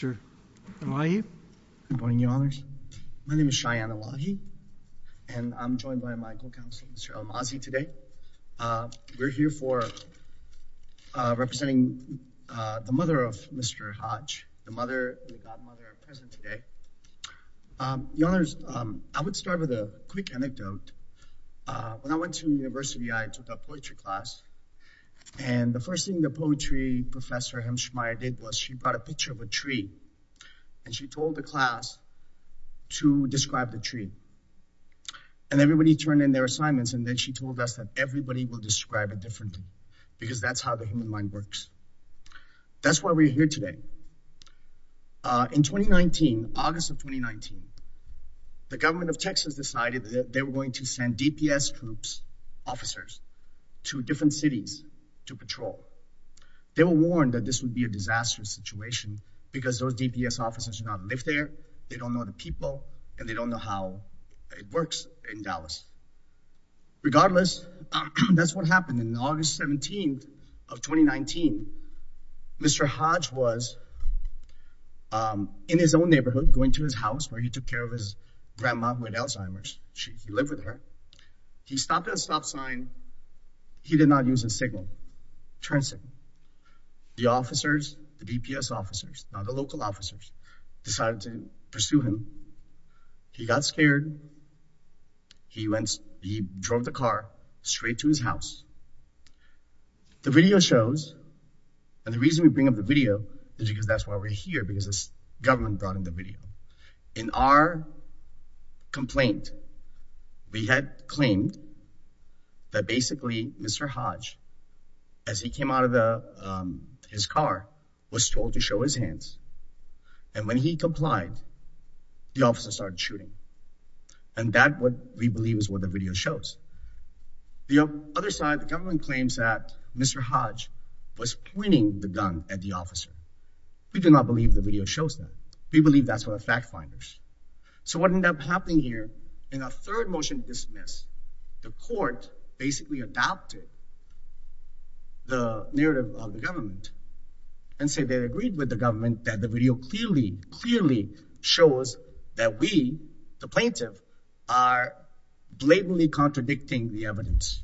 Good morning, Your Honors. My name is Cheyenne Awagi, and I'm joined by my co-counsel, Mr. Amazi, today. We're here for representing the mother of Mr. Hodge, the mother, the godmother, present today. Your Honors, I would start with a quick anecdote. When I went to university, I took a poetry class, and the first thing the poetry professor, Hemshmire, did was she brought a picture of a tree, and she told the class to describe the tree. And everybody turned in their tree, and she told us that everybody will describe it differently, because that's how the human mind works. That's why we're here today. In 2019, August of 2019, the government of Texas decided that they were going to send DPS troops, officers, to different cities to patrol. They were warned that this would be a disastrous situation, because those DPS officers do not live there, they don't know the people, and they don't know how it works in Dallas. Regardless, that's what happened. On August 17th of 2019, Mr. Hodge was in his own neighborhood, going to his house, where he took care of his grandma, who had Alzheimer's. He lived with her. He stopped at a stop sign. He did not use a signal, transit. The officers, the DPS officers, not the local officers, decided to pursue him. He got scared. He drove the car straight to his house. The video shows, and the reason we bring up the video is because that's why we're here, because this government brought in the video. In our complaint, we had claimed that basically Mr. Hodge, as he came out of his car, was told to show his hands. And when he complied, the officer started shooting. And that, what we believe, is what the video shows. The other side, the government claims that Mr. Hodge was pointing the gun at the officer. We do not believe the video shows that. We believe that's what the fact finders. So what ended up happening here, in our third motion to dismiss, the court basically adopted the narrative of the government and say they agreed with the government that the video clearly, clearly shows that we, the plaintiff, are blatantly contradicting the evidence.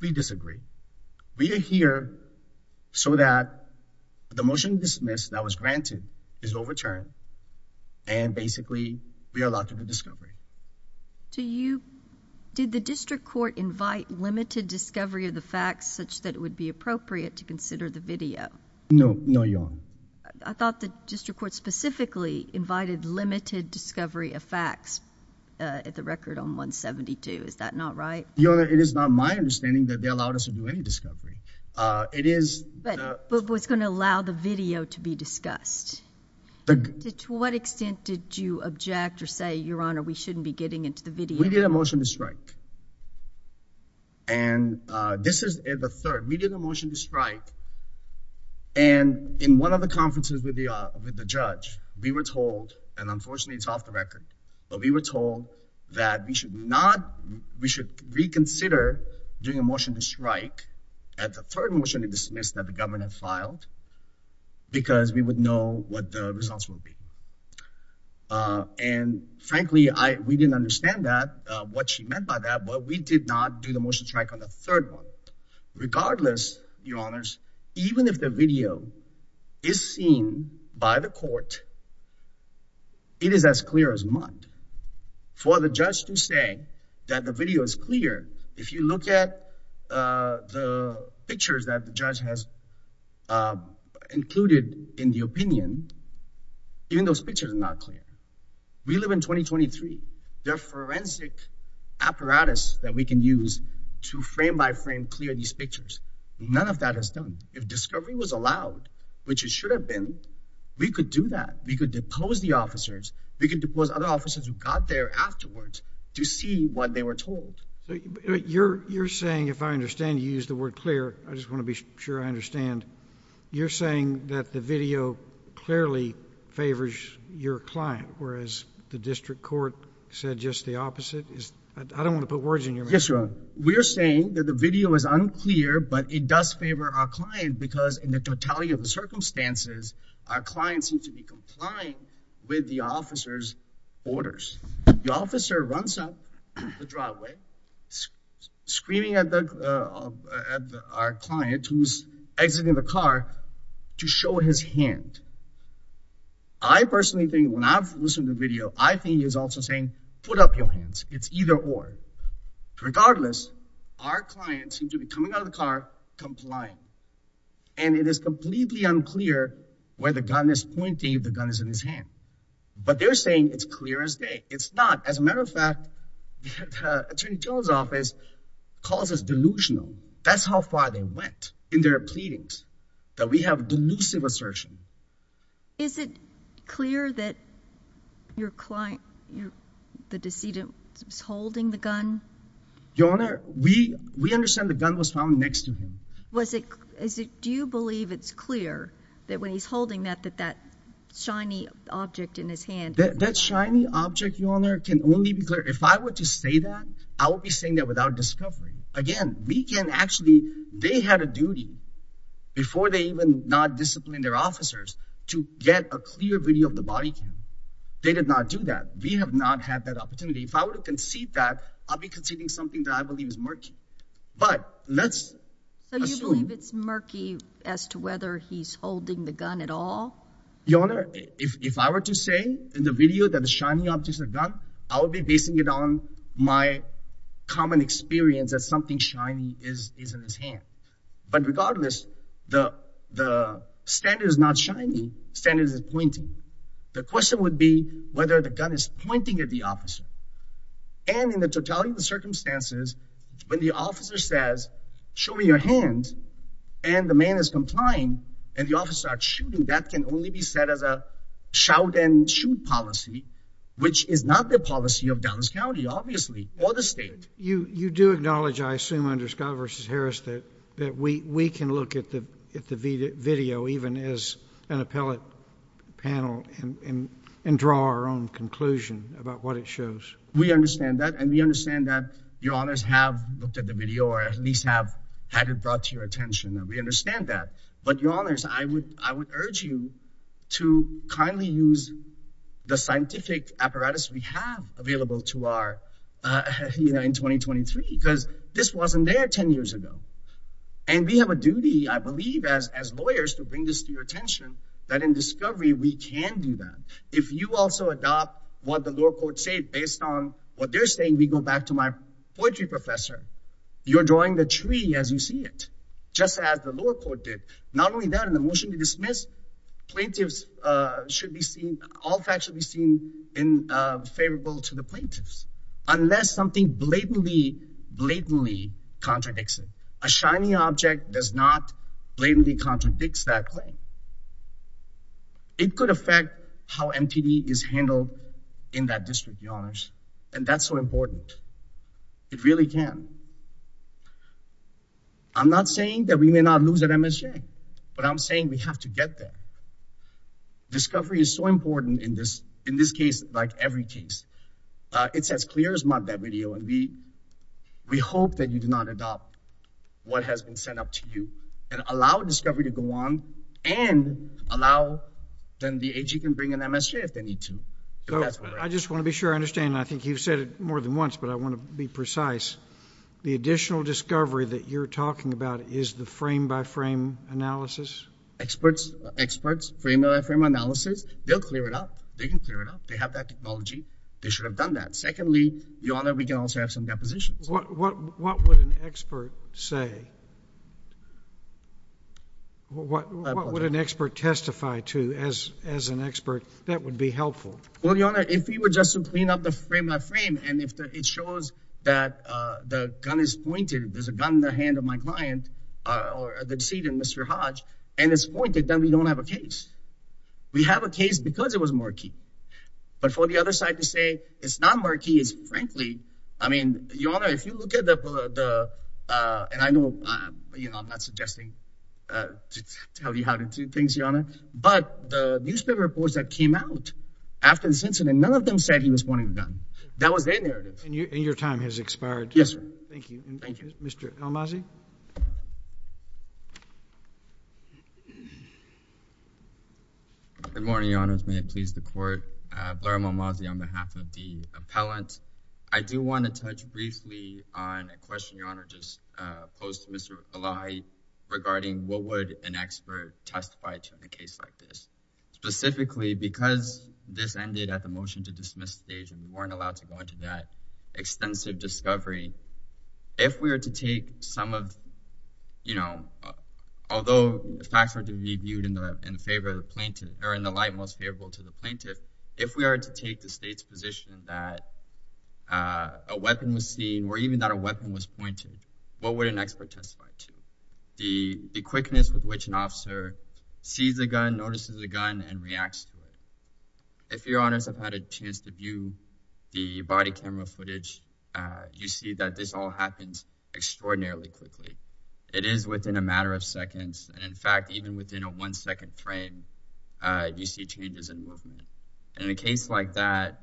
We disagree. We are here so that the motion to dismiss that was granted is overturned and basically we are locked into discovery. Did the district court invite limited discovery of the facts such that it would be appropriate to consider the video? No, no, Your Honor. I thought the district court specifically invited limited discovery of facts at the record on 172. Is that not right? Your Honor, it is not my understanding that they allowed us to do any discovery. It is... But was going to allow the video to be discussed. To what extent did you object or say, Your Honor, we shouldn't be getting into the video? We did a motion to strike. And this is the third. We did a motion to strike and in one of the conferences with the judge, we were told, and unfortunately it's off the record, but we were told that we should not, we should reconsider doing a motion to strike at the third motion to dismiss that the government had filed because we would know what the results will be. And frankly, we didn't understand that, what she meant by that, but we did not do the motion to strike on the third one. Regardless, Your Honors, even if the video is seen by the court, it is as clear as mud. For the judge to say that the video is clear, if you look at the pictures that the judge has included in the opinion, even those pictures are not clear. We live in 2023. There are forensic apparatus that we can use to frame by frame clear these pictures. None of that has done. If discovery was allowed, which it should have been, we could do that. We could depose the officers who got there afterwards to see what they were told. You're saying, if I understand you use the word clear, I just want to be sure I understand. You're saying that the video clearly favors your client, whereas the district court said just the opposite? I don't want to put words in your mouth. Yes, Your Honor. We're saying that the video is unclear, but it does favor our client because in the totality of the circumstances, our client seems to be complying with the officer's orders. The officer runs up the driveway, screaming at our client who's exiting the car to show his hand. I personally think when I've listened to the video, I think he's also saying, put up your hands. It's either or. Regardless, our client seems to be coming out of the car complying. And it is completely unclear where the gun is pointing, if the gun is in his hand. But they're saying it's clear as day. It's not. As a matter of fact, Attorney Jones' office calls us delusional. That's how far they went in their pleadings, that we have delusive assertion. Is it clear that your client, the decedent, was holding the gun? Your Honor, we understand the gun was found next to him. Do you believe it's clear that when he's holding that, that that shiny object in his hand? That shiny object, Your Honor, can only be clear. If I were to say that, I would be saying that without discovery. Again, we can actually, they had a duty before they even not disciplined their officers to get a clear video of the bodycam. They did not do that. We have not had that something that I believe is murky. But let's assume. So you believe it's murky as to whether he's holding the gun at all? Your Honor, if I were to say in the video that the shiny object is a gun, I would be basing it on my common experience that something shiny is in his hand. But regardless, the standard is not shiny, standard is pointing. The question would be whether the gun is pointing at the officer. And in the totality of the circumstances, when the officer says, show me your hands, and the man is complying, and the officer starts shooting, that can only be said as a shout and shoot policy, which is not the policy of Dallas County, obviously, or the state. You do acknowledge, I assume under Scott v. Harris, that we can look at the video even as an appellate panel and draw our own conclusion about what it shows. We understand that, and we understand that Your Honors have looked at the video, or at least have had it brought to your attention, and we understand that. But Your Honors, I would urge you to kindly use the scientific apparatus we have available to our, you know, in 2023, because this wasn't there 10 years ago. And we have a duty, I believe, as lawyers to bring this to attention, that in discovery, we can do that. If you also adopt what the lower court said based on what they're saying, we go back to my poetry professor, you're drawing the tree as you see it, just as the lower court did. Not only that, in the motion to dismiss, plaintiffs should be seen, all facts should be seen in favorable to the plaintiffs, unless something blatantly, blatantly contradicts it. A shiny object does not blatantly contradicts that claim. It could affect how MTD is handled in that district, Your Honors, and that's so important. It really can. I'm not saying that we may not lose at MSJ, but I'm saying we have to get there. Discovery is so important in this, in this case, like every case. It's as clear as mud that video, and we, we hope that you do not adopt what has been sent up to you and allow discovery to go on and allow, then the AG can bring an MSJ if they need to. I just want to be sure I understand. I think you've said it more than once, but I want to be precise. The additional discovery that you're talking about is the frame by frame analysis. Experts, experts, frame by frame analysis, they'll clear it up. They can clear it up. They have that technology. They should have done that. Secondly, Your Honor, we can also have some depositions. What, what, what would an expert say? What, what would an expert testify to as, as an expert? That would be helpful. Well, Your Honor, if we were just to clean up the frame by frame, and if it shows that the gun is pointed, there's a gun in the hand of my client, or the decedent, Mr. Hodge, and it's pointed, then we don't have a case. We have a case because it was murky. But for the other side to say it's not murky is, frankly, I mean, Your Honor, if you look at the, the, uh, and I know, uh, you know, I'm not suggesting, uh, to tell you how to do things, Your Honor, but the newspaper reports that came out after the incident, none of them said he was pointing the gun. That was their narrative. And your, and your time has expired. Yes, sir. Thank you. Thank you. Mr. Almazi. Good morning, Your Honors. May it please the court. Uh, Blair Almazi on behalf of the appellant. I do want to touch briefly on a question Your Honor just, uh, posed to Mr. Elahi regarding what would an expert testify to in a case like this, specifically because this ended at the motion to dismiss stage, and we weren't allowed to go into that extensive discovery. If we were to take some of, you know, although the facts were to be viewed in favor of plaintiff, or in the light most favorable to the plaintiff, if we are to take the state's position that a weapon was seen, or even that a weapon was pointed, what would an expert testify to? The quickness with which an officer sees a gun, notices a gun, and reacts to it. If Your Honors have had a chance to view the body camera footage, you see that this all happens extraordinarily quickly. It is within a matter of seconds, and in fact, even within a one-second frame, you see changes in movement. In a case like that,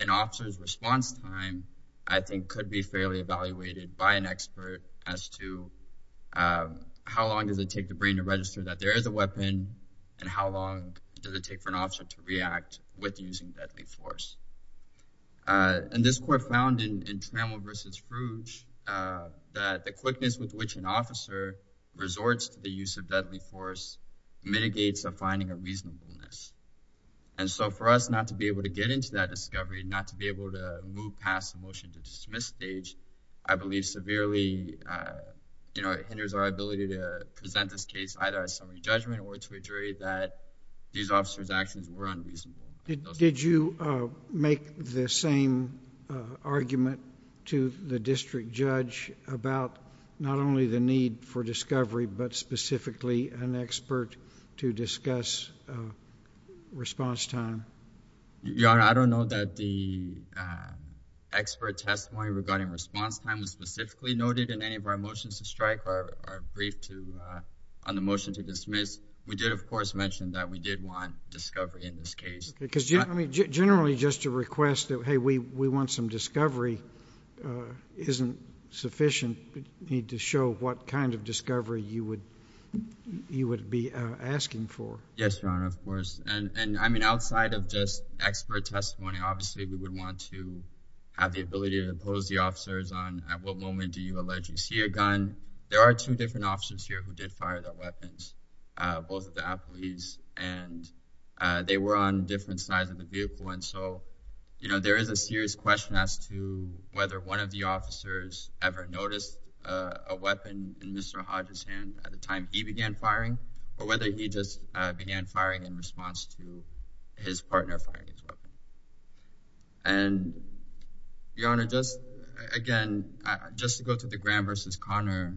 an officer's response time, I think, could be fairly evaluated by an expert as to how long does it take the brain to register that there is a weapon, and how long does it take for an officer to react with using deadly force. And this court found in Trammell v. Frouge that the quickness with which an officer resorts to the use of deadly force mitigates the finding of reasonableness. And so for us not to be able to get into that discovery, not to be able to move past the motion to dismiss stage, I believe severely, you know, it hinders our ability to present this case either as somebody's actions or unreasonable. Did you make the same argument to the district judge about not only the need for discovery, but specifically an expert to discuss response time? Your Honor, I don't know that the expert testimony regarding response time was specifically noted in any of our motions to strike or brief on the motion to dismiss. We did, of course, mention that we did want discovery in this case. Because generally just to request that, hey, we want some discovery isn't sufficient. You need to show what kind of discovery you would be asking for. Yes, Your Honor, of course. And I mean, outside of just expert testimony, obviously we would want to have the ability to impose the officers on at what moment do you allege you see a gun. There are two different officers here who did fire their weapons, both of the athletes, and they were on different sides of the vehicle. And so, you know, there is a serious question as to whether one of the officers ever noticed a weapon in Mr. Hodges' hand at the time he began firing, or whether he just began firing in response to his partner firing his weapon. And Your Honor, just again, just to go to Graham versus Conner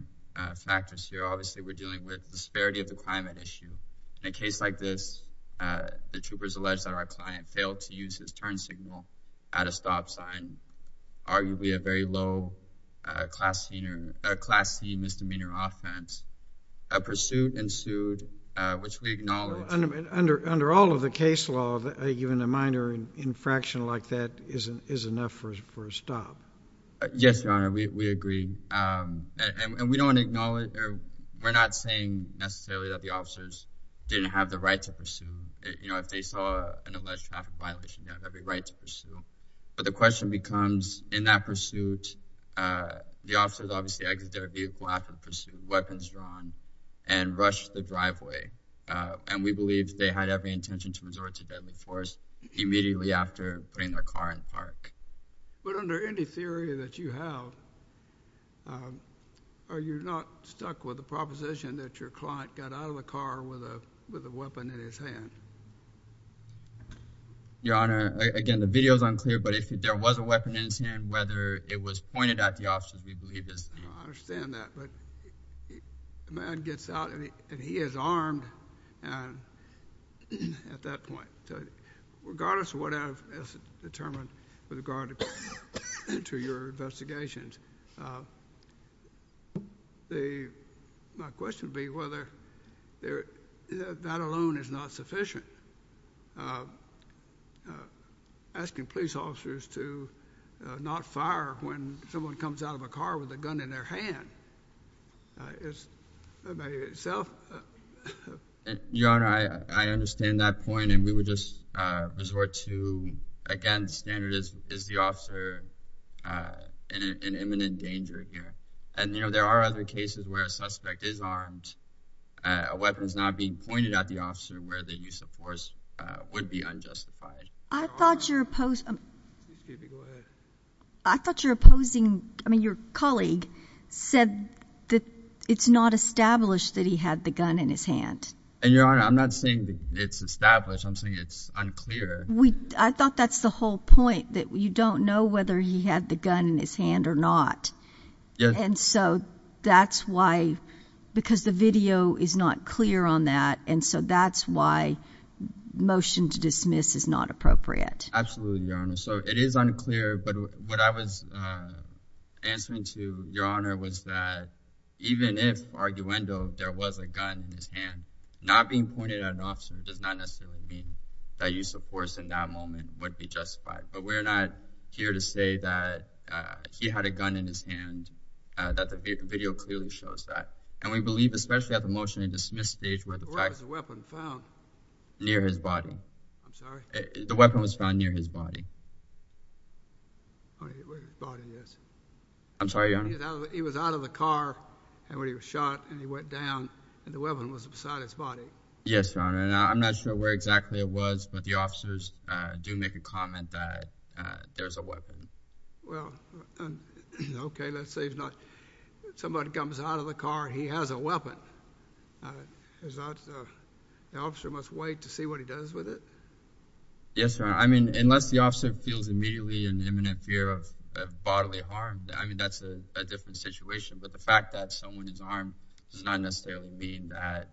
factors here, obviously we're dealing with disparity of the climate issue. In a case like this, the troopers allege that our client failed to use his turn signal at a stop sign, arguably a very low class scene misdemeanor offense. A pursuit ensued, which we acknowledge. Well, under all of the case law, even a minor infraction like that is enough for a stop. Yes, Your Honor, we agree. And we don't acknowledge, or we're not saying necessarily that the officers didn't have the right to pursue. You know, if they saw an alleged traffic violation, they have every right to pursue. But the question becomes, in that pursuit, the officers obviously exited their vehicle after the pursuit, weapons drawn, and rushed the driveway. And we believe they had every intention to resort to deadly force immediately after putting their car in the park. But under any theory that you have, are you not stuck with the proposition that your client got out of the car with a weapon in his hand? Your Honor, again, the video is unclear, but if there was a weapon in his hand, whether it was pointed at the officer, we believe this. I understand that, but the man gets out and he is charged. Your Honor, I understand that point, and we would just resort to, again, the standard is the officer in imminent danger here. And, you know, there are other cases where a suspect is armed, a weapon is not being pointed at the officer, where the use of force would be unjustified. I thought your opposing, I mean, your colleague said that it's not established that he had the gun in his hand. And, Your Honor, I'm not saying it's established. I'm saying it's unclear. I thought that's the whole point, that you don't know whether he had the gun in his hand or not. And so that's why, because the video is not clear on that, and so that's why motion to dismiss is not appropriate. Absolutely, Your Honor. So it is unclear, but what I was answering to, Your Honor, was that even if, arguendo, there was a gun in his hand, not being pointed at an officer does not necessarily mean that use of force in that moment would be justified. But we're not here to say that he had a gun in his hand, that the video clearly shows that. And we believe, especially at the motion to dismiss stage, where the fact— Where was the weapon found? Near his body. I'm sorry? The weapon was found near his body. Oh, near his body, yes. I'm sorry, Your Honor. He was out of the car, and when he was shot, and he went down, and the weapon was beside his body. Yes, Your Honor, and I'm not sure where exactly it was, but the officers do make a comment that there's a weapon. Well, okay, let's say he's not—somebody comes out of the car, he has a weapon. Is that—the officer must wait to see what he does with it? Yes, Your Honor. I mean, unless the officer feels immediately an imminent fear of bodily harm, I mean, that's a different situation. But the fact that someone is armed does not necessarily mean that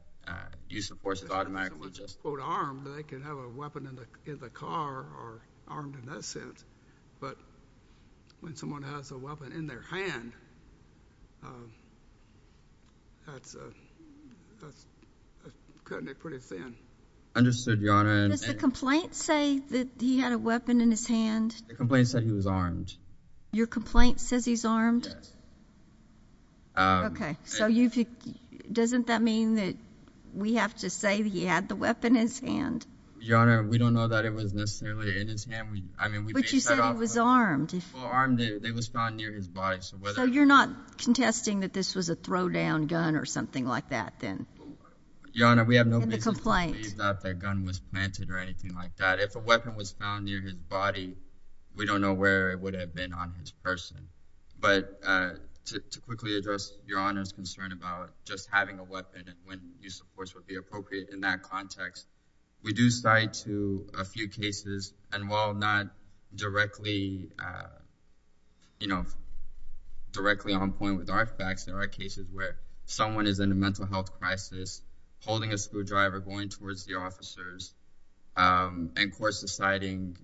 use of force is automatic. If someone is, quote, armed, they can have a weapon in the car, or armed in that sense. But when someone has a weapon in their hand, that's cutting it pretty thin. Understood, Your Honor. Does the complaint say that he had a weapon in his hand? The complaint said he was armed. Your complaint says he's armed? Yes. Okay, so you've—doesn't that mean that we have to say he had the weapon in his hand? Your Honor, we don't know that it was necessarily in his hand. I mean, we based that off— But you said he was armed. Well, armed, it was found near his body, so whether— So you're not contesting that this was a throw-down gun or something like that, then? Your Honor, we have no business— In the complaint. —that the gun was planted or anything like that. If a weapon was found near his body, we don't know where it would have been on his person. But to quickly address Your Honor's concern about just having a weapon when use, of course, would be appropriate in that context, we do cite a few cases. And while not directly on point with our facts, there are cases where someone is in a mental health crisis, holding a screwdriver, going towards the officers, and, of course, deciding—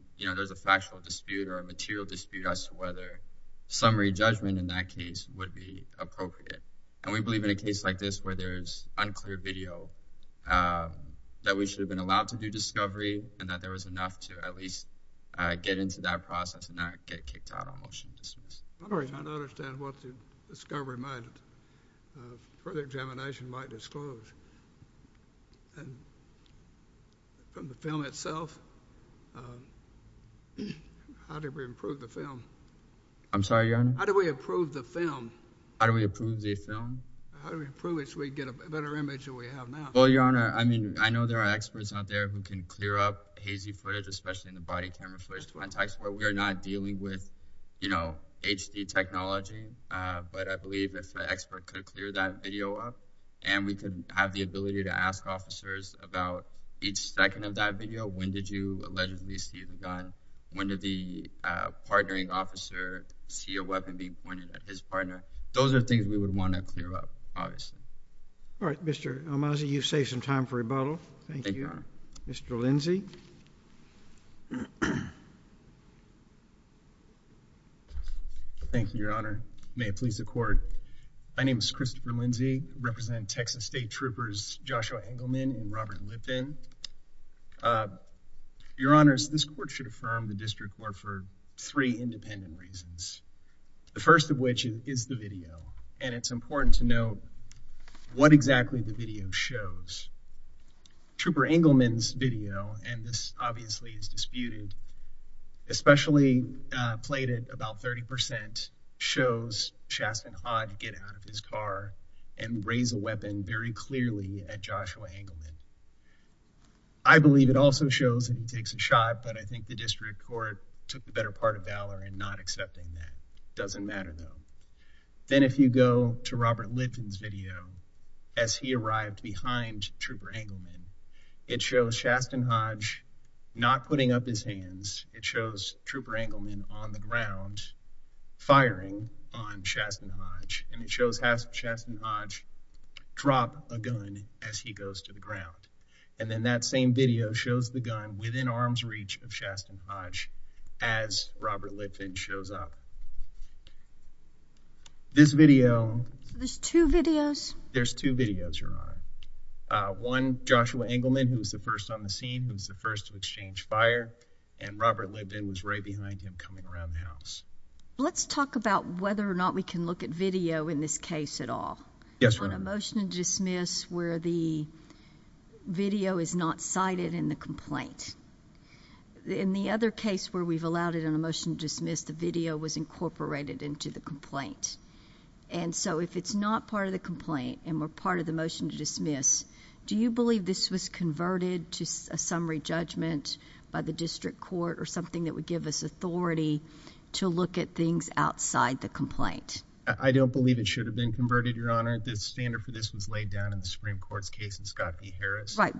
summary judgment in that case would be appropriate. And we believe in a case like this where there's unclear video, that we should have been allowed to do discovery and that there was enough to at least get into that process and not get kicked out on motion to dismiss. Your Honor, I don't understand what the discovery might—further examination might disclose. And from the film itself, how do we improve the film? I'm sorry, Your Honor? How do we improve the film? How do we improve the film? How do we improve it so we get a better image than we have now? Well, Your Honor, I mean, I know there are experts out there who can clear up hazy footage, especially in the body camera footage context where we are not dealing with, you know, HD technology. But I believe if the expert could clear that video up and we could have the ability to ask officers about each second of that video, when did you allegedly see the gun? When did the partnering officer see a weapon being pointed at his partner? Those are things we would want to clear up, obviously. All right. Mr. Omazi, you've saved some time for rebuttal. Thank you, Your Honor. Mr. Lindsey? Thank you, Your Honor. May it please the Court. My name is Christopher Lindsey. I represent Texas State Troopers Joshua Engelman and Robert Lippin. Your Honors, this Court should affirm the District Court for three independent reasons, the first of which is the video. And it's important to note what exactly the video shows. Trooper Engelman's video, and this obviously is disputed, especially played at about 30%, shows Chasten Haught get out of his car and raise a weapon very clearly at Joshua Engelman. I believe it also shows that he takes a shot, but I think the District Court took the better part of valor in not accepting that. It doesn't matter, though. Then if you go to Robert Lippin's video as he arrived behind Trooper Engelman, it shows Chasten Haught not putting up his hands. It shows Trooper Engelman on the ground firing on Chasten Haught, and it shows Chasten Haught drop a gun as he goes to the ground. And then that same video shows the gun within arm's reach of Chasten Haught as Robert Lippin shows up. This video... There's two videos? There's two videos, Your Honor. One, Joshua Engelman, who was the first on the scene, who was the first to exchange fire, and Robert Lippin was right behind him coming around the house. Let's talk about whether or not we can look at video in this case at all. Yes, Your Honor. On a motion to dismiss where the video is not cited in the complaint. In the other case where we've allowed it in a motion to dismiss, the video was incorporated into the complaint. And so if it's not part of the complaint and we're part of the motion to dismiss, do you believe this was converted to a summary judgment by the district court or something that would give us authority to look at things outside the complaint? I don't believe it should have been converted, Your Honor. The standard for this was laid down in the Supreme Court's case in Scott v. Harris. Motion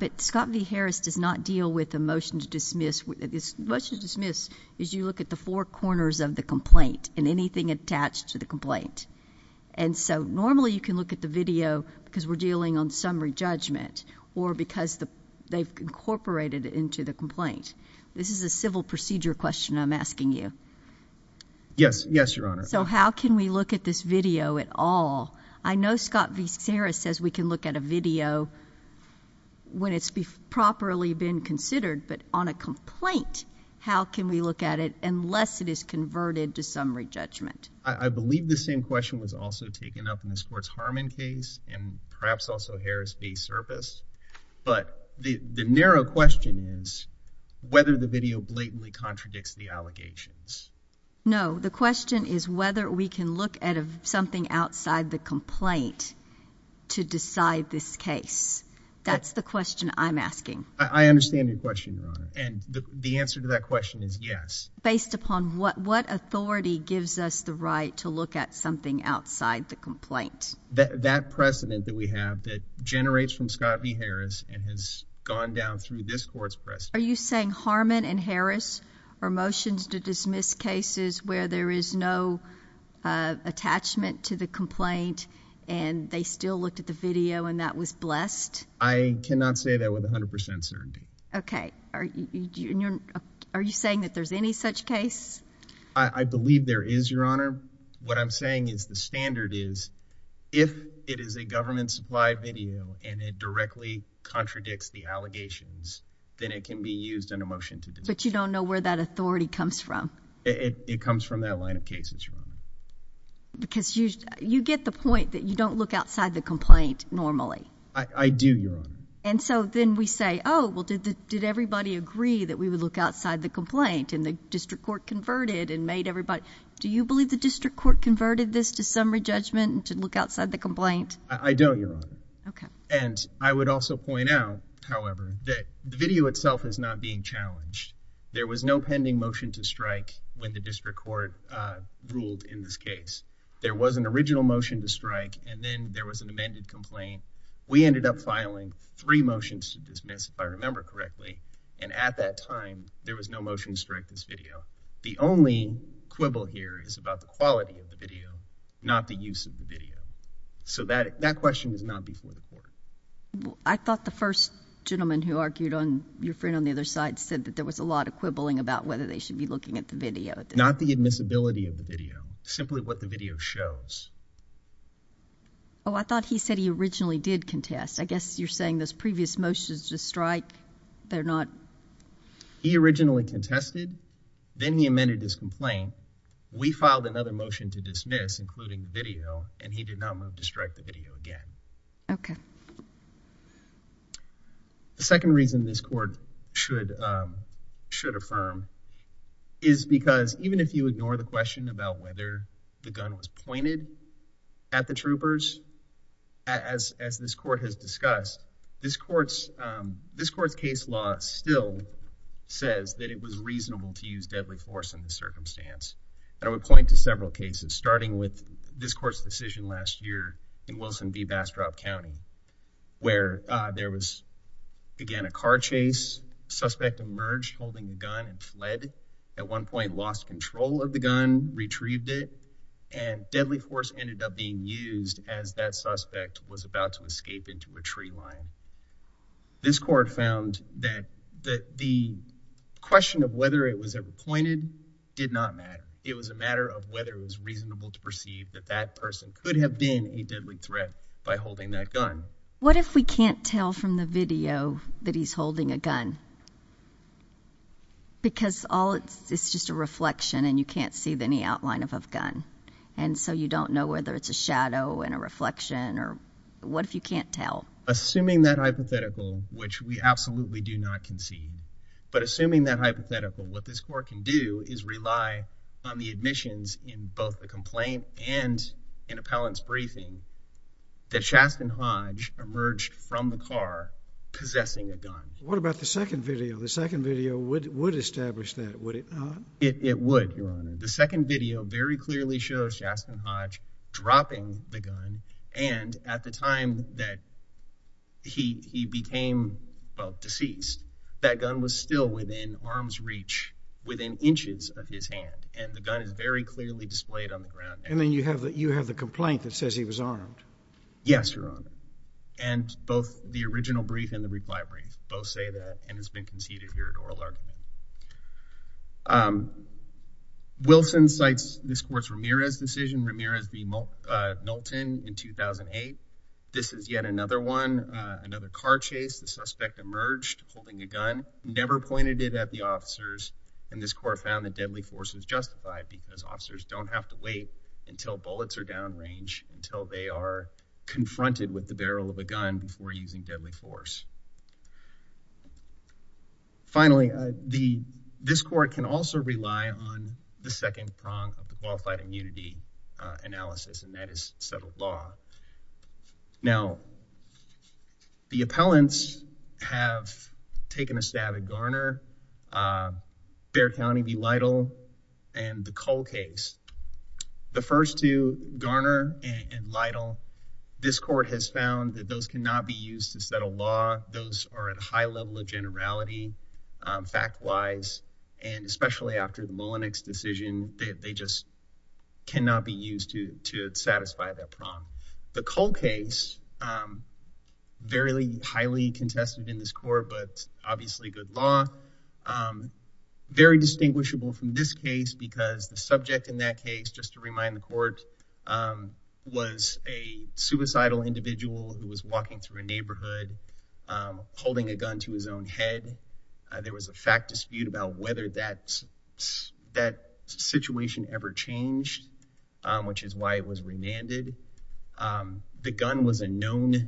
to dismiss is you look at the four corners of the complaint and anything attached to the complaint. And so normally you can look at the video because we're dealing on summary judgment or because they've incorporated it into the complaint. This is a civil procedure question I'm asking you. Yes. Yes, Your Honor. So how can we look at this video at all? I know Scott v. Harris says we can look at a video when it's properly been considered, but on a complaint, how can we look at it unless it is converted to summary judgment? I believe the same question was also taken up in the Sports Harmon case and perhaps also Harris v. Service. But the narrow question is whether the video blatantly contradicts the allegations. No, the question is whether we can look at something outside the complaint to decide this case. That's the question I'm asking. I understand your question, Your Honor. And the answer to that question is yes. Based upon what authority gives us the right to look at something outside the complaint? That precedent that we have that generates from Scott v. Harris and has gone down through this court's precedent. Are you saying Harmon and Harris are motions to dismiss cases where there is no attachment to the complaint and they still looked at the video and that was blessed? I cannot say that with 100% certainty. Okay. Are you saying that there's any such case? I believe there is, Your Honor. What I'm saying is the standard is if it is a government-supplied video and it directly contradicts the allegations, then it can be used in a motion to dismiss. But you don't know where that authority comes from? It comes from that line of cases, Your Honor. Because you get the point that you don't look outside the complaint normally. I do, Your Honor. And so then we say, oh, well, did everybody agree that we would look outside the complaint and the district court converted and made everybody... Do you believe the district court converted this to summary judgment to look outside the complaint? I don't, Your Honor. Okay. And I would also point out, however, that the video itself is not being challenged. There was no pending motion to strike when the district court ruled in this case. There was an original motion to strike and then there was an amended complaint. We ended up filing three motions to dismiss, if I remember correctly. And at that time, there was no motion to strike this video. The only quibble here is about the quality of the video, not the use of the video. So that question was not before the court. I thought the first gentleman who argued on your friend on the other side said that there was a lot of quibbling about whether they should be looking at the video. Not the admissibility of the video, simply what the video shows. Oh, I thought he said he originally did contest. I guess you're saying those previous motions to strike, they're not... He originally contested, then he amended his complaint. We filed another motion to dismiss, including the video, and he did not move to strike the video again. Okay. The second reason this court should affirm is because even if you ignore the question about whether the gun was pointed at the troopers, as this court has discussed, this court's case law still says that it was reasonable to use deadly force in the circumstance. And I would point to several cases, starting with this court's decision last year in Wilson v. Bastrop County, where there was, again, a car chase. Suspect emerged holding a gun and fled. At one point, lost control of the gun, retrieved it, and deadly force ended up being used as that suspect was about to escape into a tree line. This court found that the question of whether it was ever pointed did not matter. It was a matter of whether it was reasonable to perceive that that person could have been a deadly threat by holding that gun. What if we can't tell from the video that he's holding a gun? Because all it's, it's just a reflection and you can't see any outline of a gun. And so you don't know whether it's a shadow and a reflection, or what if you can't tell? Assuming that hypothetical, which we absolutely do not conceive, but assuming that hypothetical, what this court can do is rely on the admissions in both the complaint and in appellant's briefing that Shastin Hodge emerged from the car possessing a gun. What about the second video? The second video would would establish that, would it not? It would, Your Honor. The second video very clearly shows Shastin Hodge dropping the gun, and at the time that he became deceased, that gun was still within arm's reach, within inches of his hand, and the gun is very clearly displayed on the ground. And then you have that you have the complaint that says he was armed. Yes, Your Honor. And both the original brief and the reply brief both say that and has been conceded here at oral argument. Wilson cites this court's Ramirez decision, Ramirez v. Nolton in 2008. This is yet another one, another car chase. The suspect emerged holding a gun, never pointed it at the officers, and this court found that deadly force was justified because officers don't have to wait until bullets are downrange, until they are confronted with the barrel of a gun before using deadly force. Finally, this court can also rely on the second prong of the qualified immunity analysis, and that is settled law. Now, the appellants have taken a stab at Garner, Bexar County v. Lytle, and the Cole case. The first two, Garner and Lytle, this court has found that those cannot be used to settle law. Those are at a high level of generality, fact-wise, and especially after the Mullenix decision, they just cannot be used to satisfy that prong. The Cole case, highly contested in this court, but obviously good law, very distinguishable from this case because the subject in that case, just to remind the court, was a suicidal individual who was walking through a neighborhood holding a gun to his own head. There was a fact dispute about whether that situation ever changed, which is why it was remanded. The gun was a known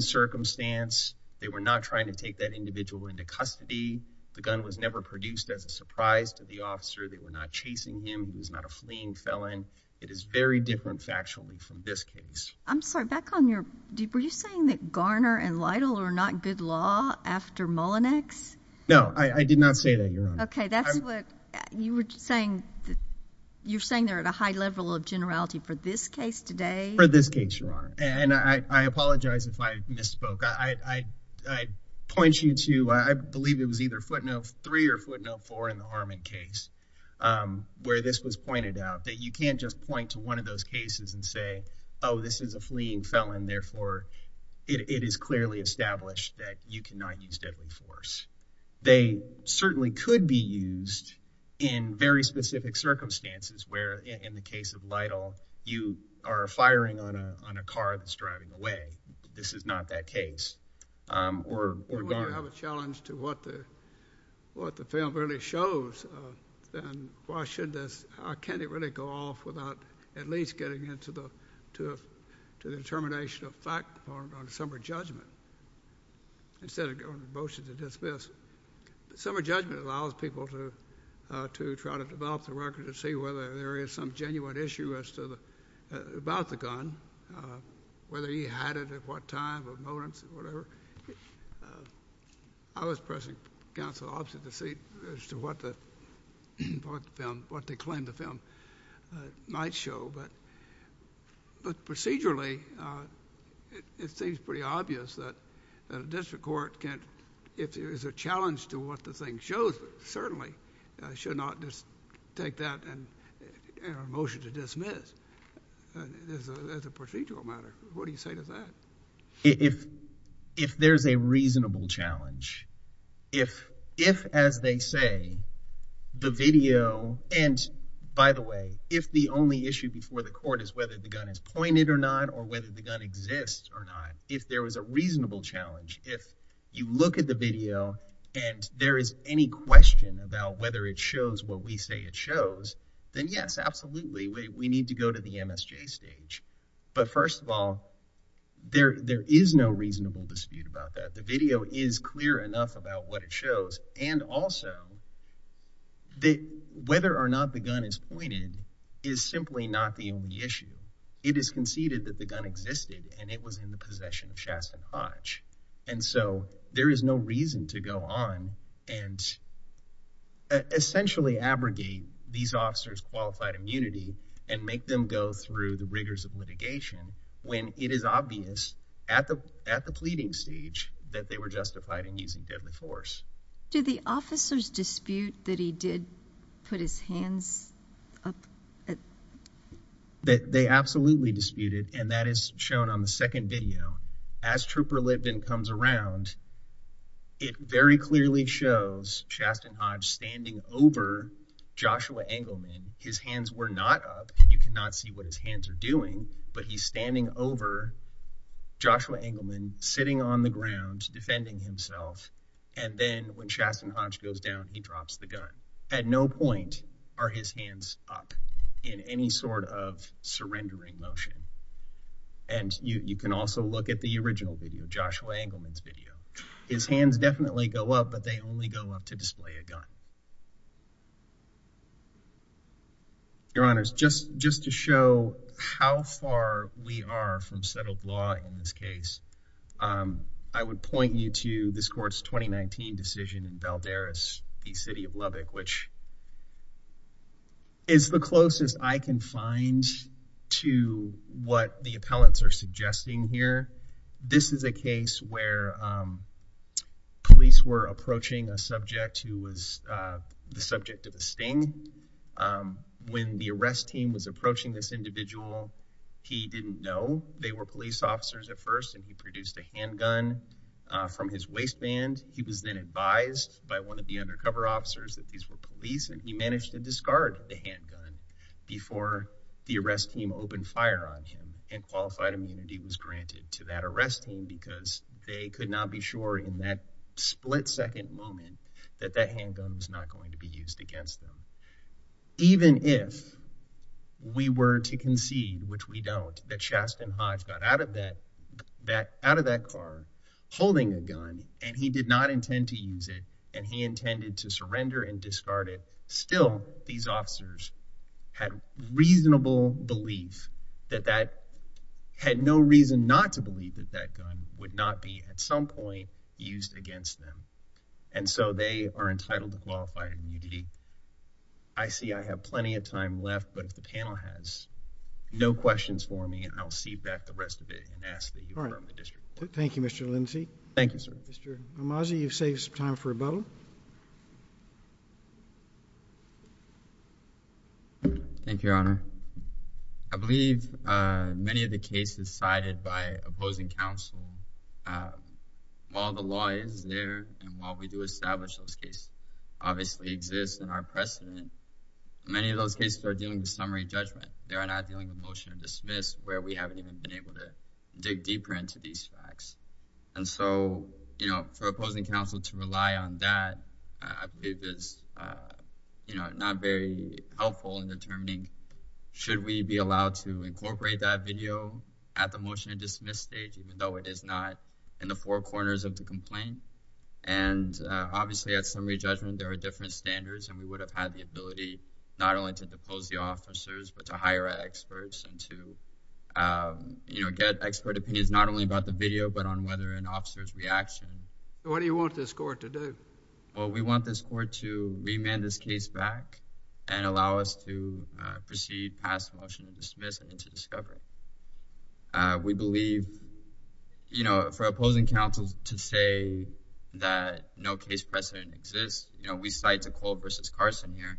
circumstance. They were not trying to take that individual into custody. The gun was never produced as a surprise to the officer. They were not chasing him. He was not a fleeing felon. It is very different factually from this case. I'm sorry, back on your, were you saying that Garner and Lytle are not good law after Mullenix? No, I did not say that, Your Honor. Okay, that's what you were saying, you're saying they're at a high level of generality for this case today? For this case, Your Honor, and I apologize if I misspoke. I'd point you to, I believe it was either footnote three or footnote four in the Harmon case where this was pointed out, that you can't just point to one of those cases and say, oh, this is a fleeing felon, therefore it is clearly established that you cannot use deadly force. They certainly could be used in very specific circumstances where, in the case of Lytle, you are firing on a car that's driving away. This is not that case, or Garner. You have a challenge to what the film really shows, then why should this, can it really go off without at least getting into the determination of fact on a summer judgment instead of motions of dismissal? Summer judgment allows people to try to develop the record to see whether there is some genuine issue as to the, about the gun, whether he had it at what time or moments or whatever. I was pressing counsel opposite the seat as to what the film, what they claim the film might show, but procedurally, it seems pretty obvious that a district court can't, if there is a challenge to what the thing shows, certainly should not just take that and motion to dismiss as a procedural matter. What do you say to that? If there's a reasonable challenge, if, as they say, the video, and by the way, if the only issue before the court is whether the gun is pointed or not, or whether the gun exists or not, if there was a reasonable challenge, if you look at the video and there is any question about whether it shows what we say it shows, then yes, absolutely, we need to go to the MSJ stage. But first of all, there is no reasonable dispute about that. The video is clear enough about what it shows, and also that whether or not the gun is pointed is simply not the only issue. It is conceded that the gun existed and it was in the possession of Chasten Hodge. And so there is no reason to go on and essentially abrogate these officers' qualified immunity and make them go through the rigors of litigation when it is obvious at the pleading stage that they were justified in using deadly force. Do the officers dispute that he did put his hands up? That they absolutely disputed, and that is shown on the second video. As Trooper Liveden comes around, it very clearly shows Chasten Hodge standing over Joshua Engelman. His hands were not up. You cannot see what his hands are doing, but he is standing over Joshua Engelman, sitting on the ground, defending himself, and then when Chasten Hodge goes down, he drops the gun. At no point are his hands up in any sort of surrendering motion. And you can also look at the original video, Joshua Engelman's video. His hands definitely go up, but they only go up to display a gun. Your Honors, just to show how far we are from settled law in this case, I would point you to this Court's 2019 decision in Valderas v. City of Lubbock, which is the closest I can find to what the appellants are suggesting here. This is a case where police were approaching a subject who was the subject of a sting. When the arrest team was approaching this individual, he didn't know they were police officers at first, and he produced a handgun from his waistband. He was then advised by one of the undercover officers that these were he managed to discard the handgun before the arrest team opened fire on him and qualified immunity was granted to that arrest team because they could not be sure in that split-second moment that that handgun was not going to be used against them. Even if we were to concede, which we don't, that Chasten Hodge got out of that car holding a gun, and he did not intend to use it, and he intended to surrender and discard it, still, these officers had reasonable belief that that had no reason not to believe that that gun would not be, at some point, used against them, and so they are entitled to qualified immunity. I see I have plenty of time left, but if the panel has no questions for me, I'll cede back the rest of it and ask that you confirm the district. Thank you, Mr. Lindsey. Thank you, sir. Mr. Amazi, you've saved some rebuttal. Thank you, Your Honor. I believe many of the cases cited by opposing counsel, while the law is there and while we do establish those cases obviously exist in our precedent, many of those cases are dealing with summary judgment. They are not dealing with motion of dismiss where we haven't even been able to dig deeper into these facts, and so, you know, proposing counsel to rely on that, I believe, is, you know, not very helpful in determining should we be allowed to incorporate that video at the motion of dismiss stage, even though it is not in the four corners of the complaint, and obviously, at summary judgment, there are different standards, and we would have had the ability not only to depose the officers, but to hire experts and to, you know, get expert opinions not only about the video, but on whether an officer's what do you want this court to do? Well, we want this court to remand this case back and allow us to proceed past the motion of dismiss and to discover. We believe, you know, for opposing counsel to say that no case precedent exists, you know, we cite Nicole versus Carson here,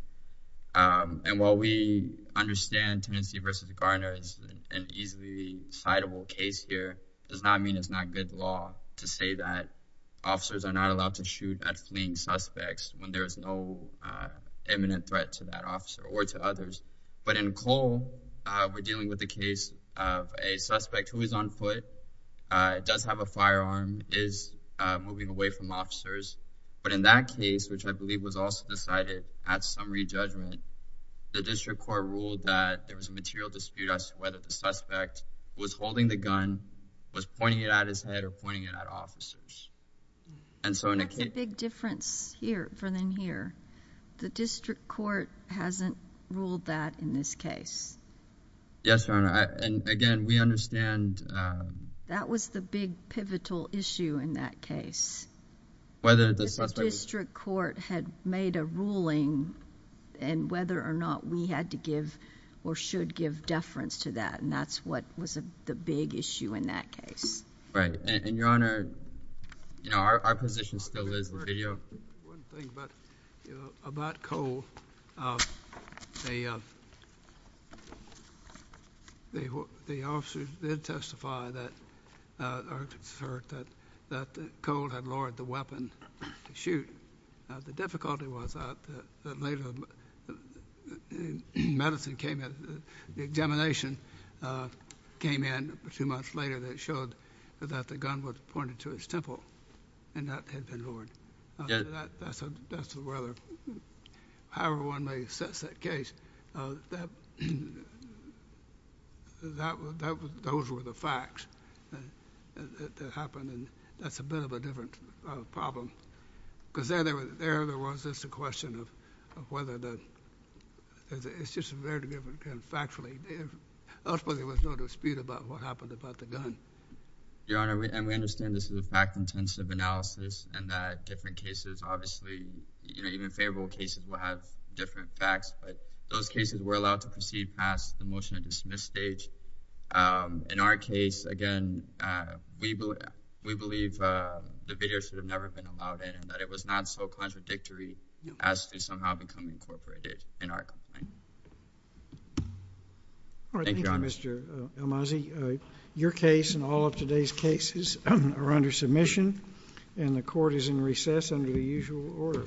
and while we understand Tennessee versus Garner is an easily citable case here, does not mean it's not good law to say that officers are not allowed to shoot at fleeing suspects when there is no imminent threat to that officer or to others, but in Cole, we're dealing with a case of a suspect who is on foot, does have a firearm, is moving away from officers, but in that case, which I believe was also decided at summary judgment, the district court ruled that there was a material dispute as to whether the suspect was holding the gun, was pointing it at his head or pointing it at officers, and so that's a big difference here for them here. The district court hasn't ruled that in this case. Yes, Your Honor, and again, we understand that was the big pivotal issue in that case, whether the district court had made a ruling and whether or not we had to give or should give deference to that, and that's what was the big issue in that case. Right, and Your Honor, you know, our position still is the video. One thing about, you know, about Cole, the officers did testify that, or it's heard that, Cole had lowered the weapon to shoot. Now, the difficulty was that later, medicine came in, the examination came in two months later that showed that the gun was pointed to his temple, and that had been lowered. Yes. That's the weather. However one may assess that those were the facts that happened, and that's a bit of a different problem, because there there was just a question of whether the, it's just a very different kind of factually. Ultimately, there was no dispute about what happened about the gun. Your Honor, and we understand this is a fact-intensive analysis, and that different obviously, you know, even favorable cases will have different facts, but those cases were allowed to proceed past the motion to dismiss stage. In our case, again, we believe the video should have never been allowed in, and that it was not so contradictory as to somehow become incorporated in our complaint. Thank you, Your Honor. Thank you, Mr. Almazi. Your case and all of today's cases are under submission, and the court is in recess under the usual order.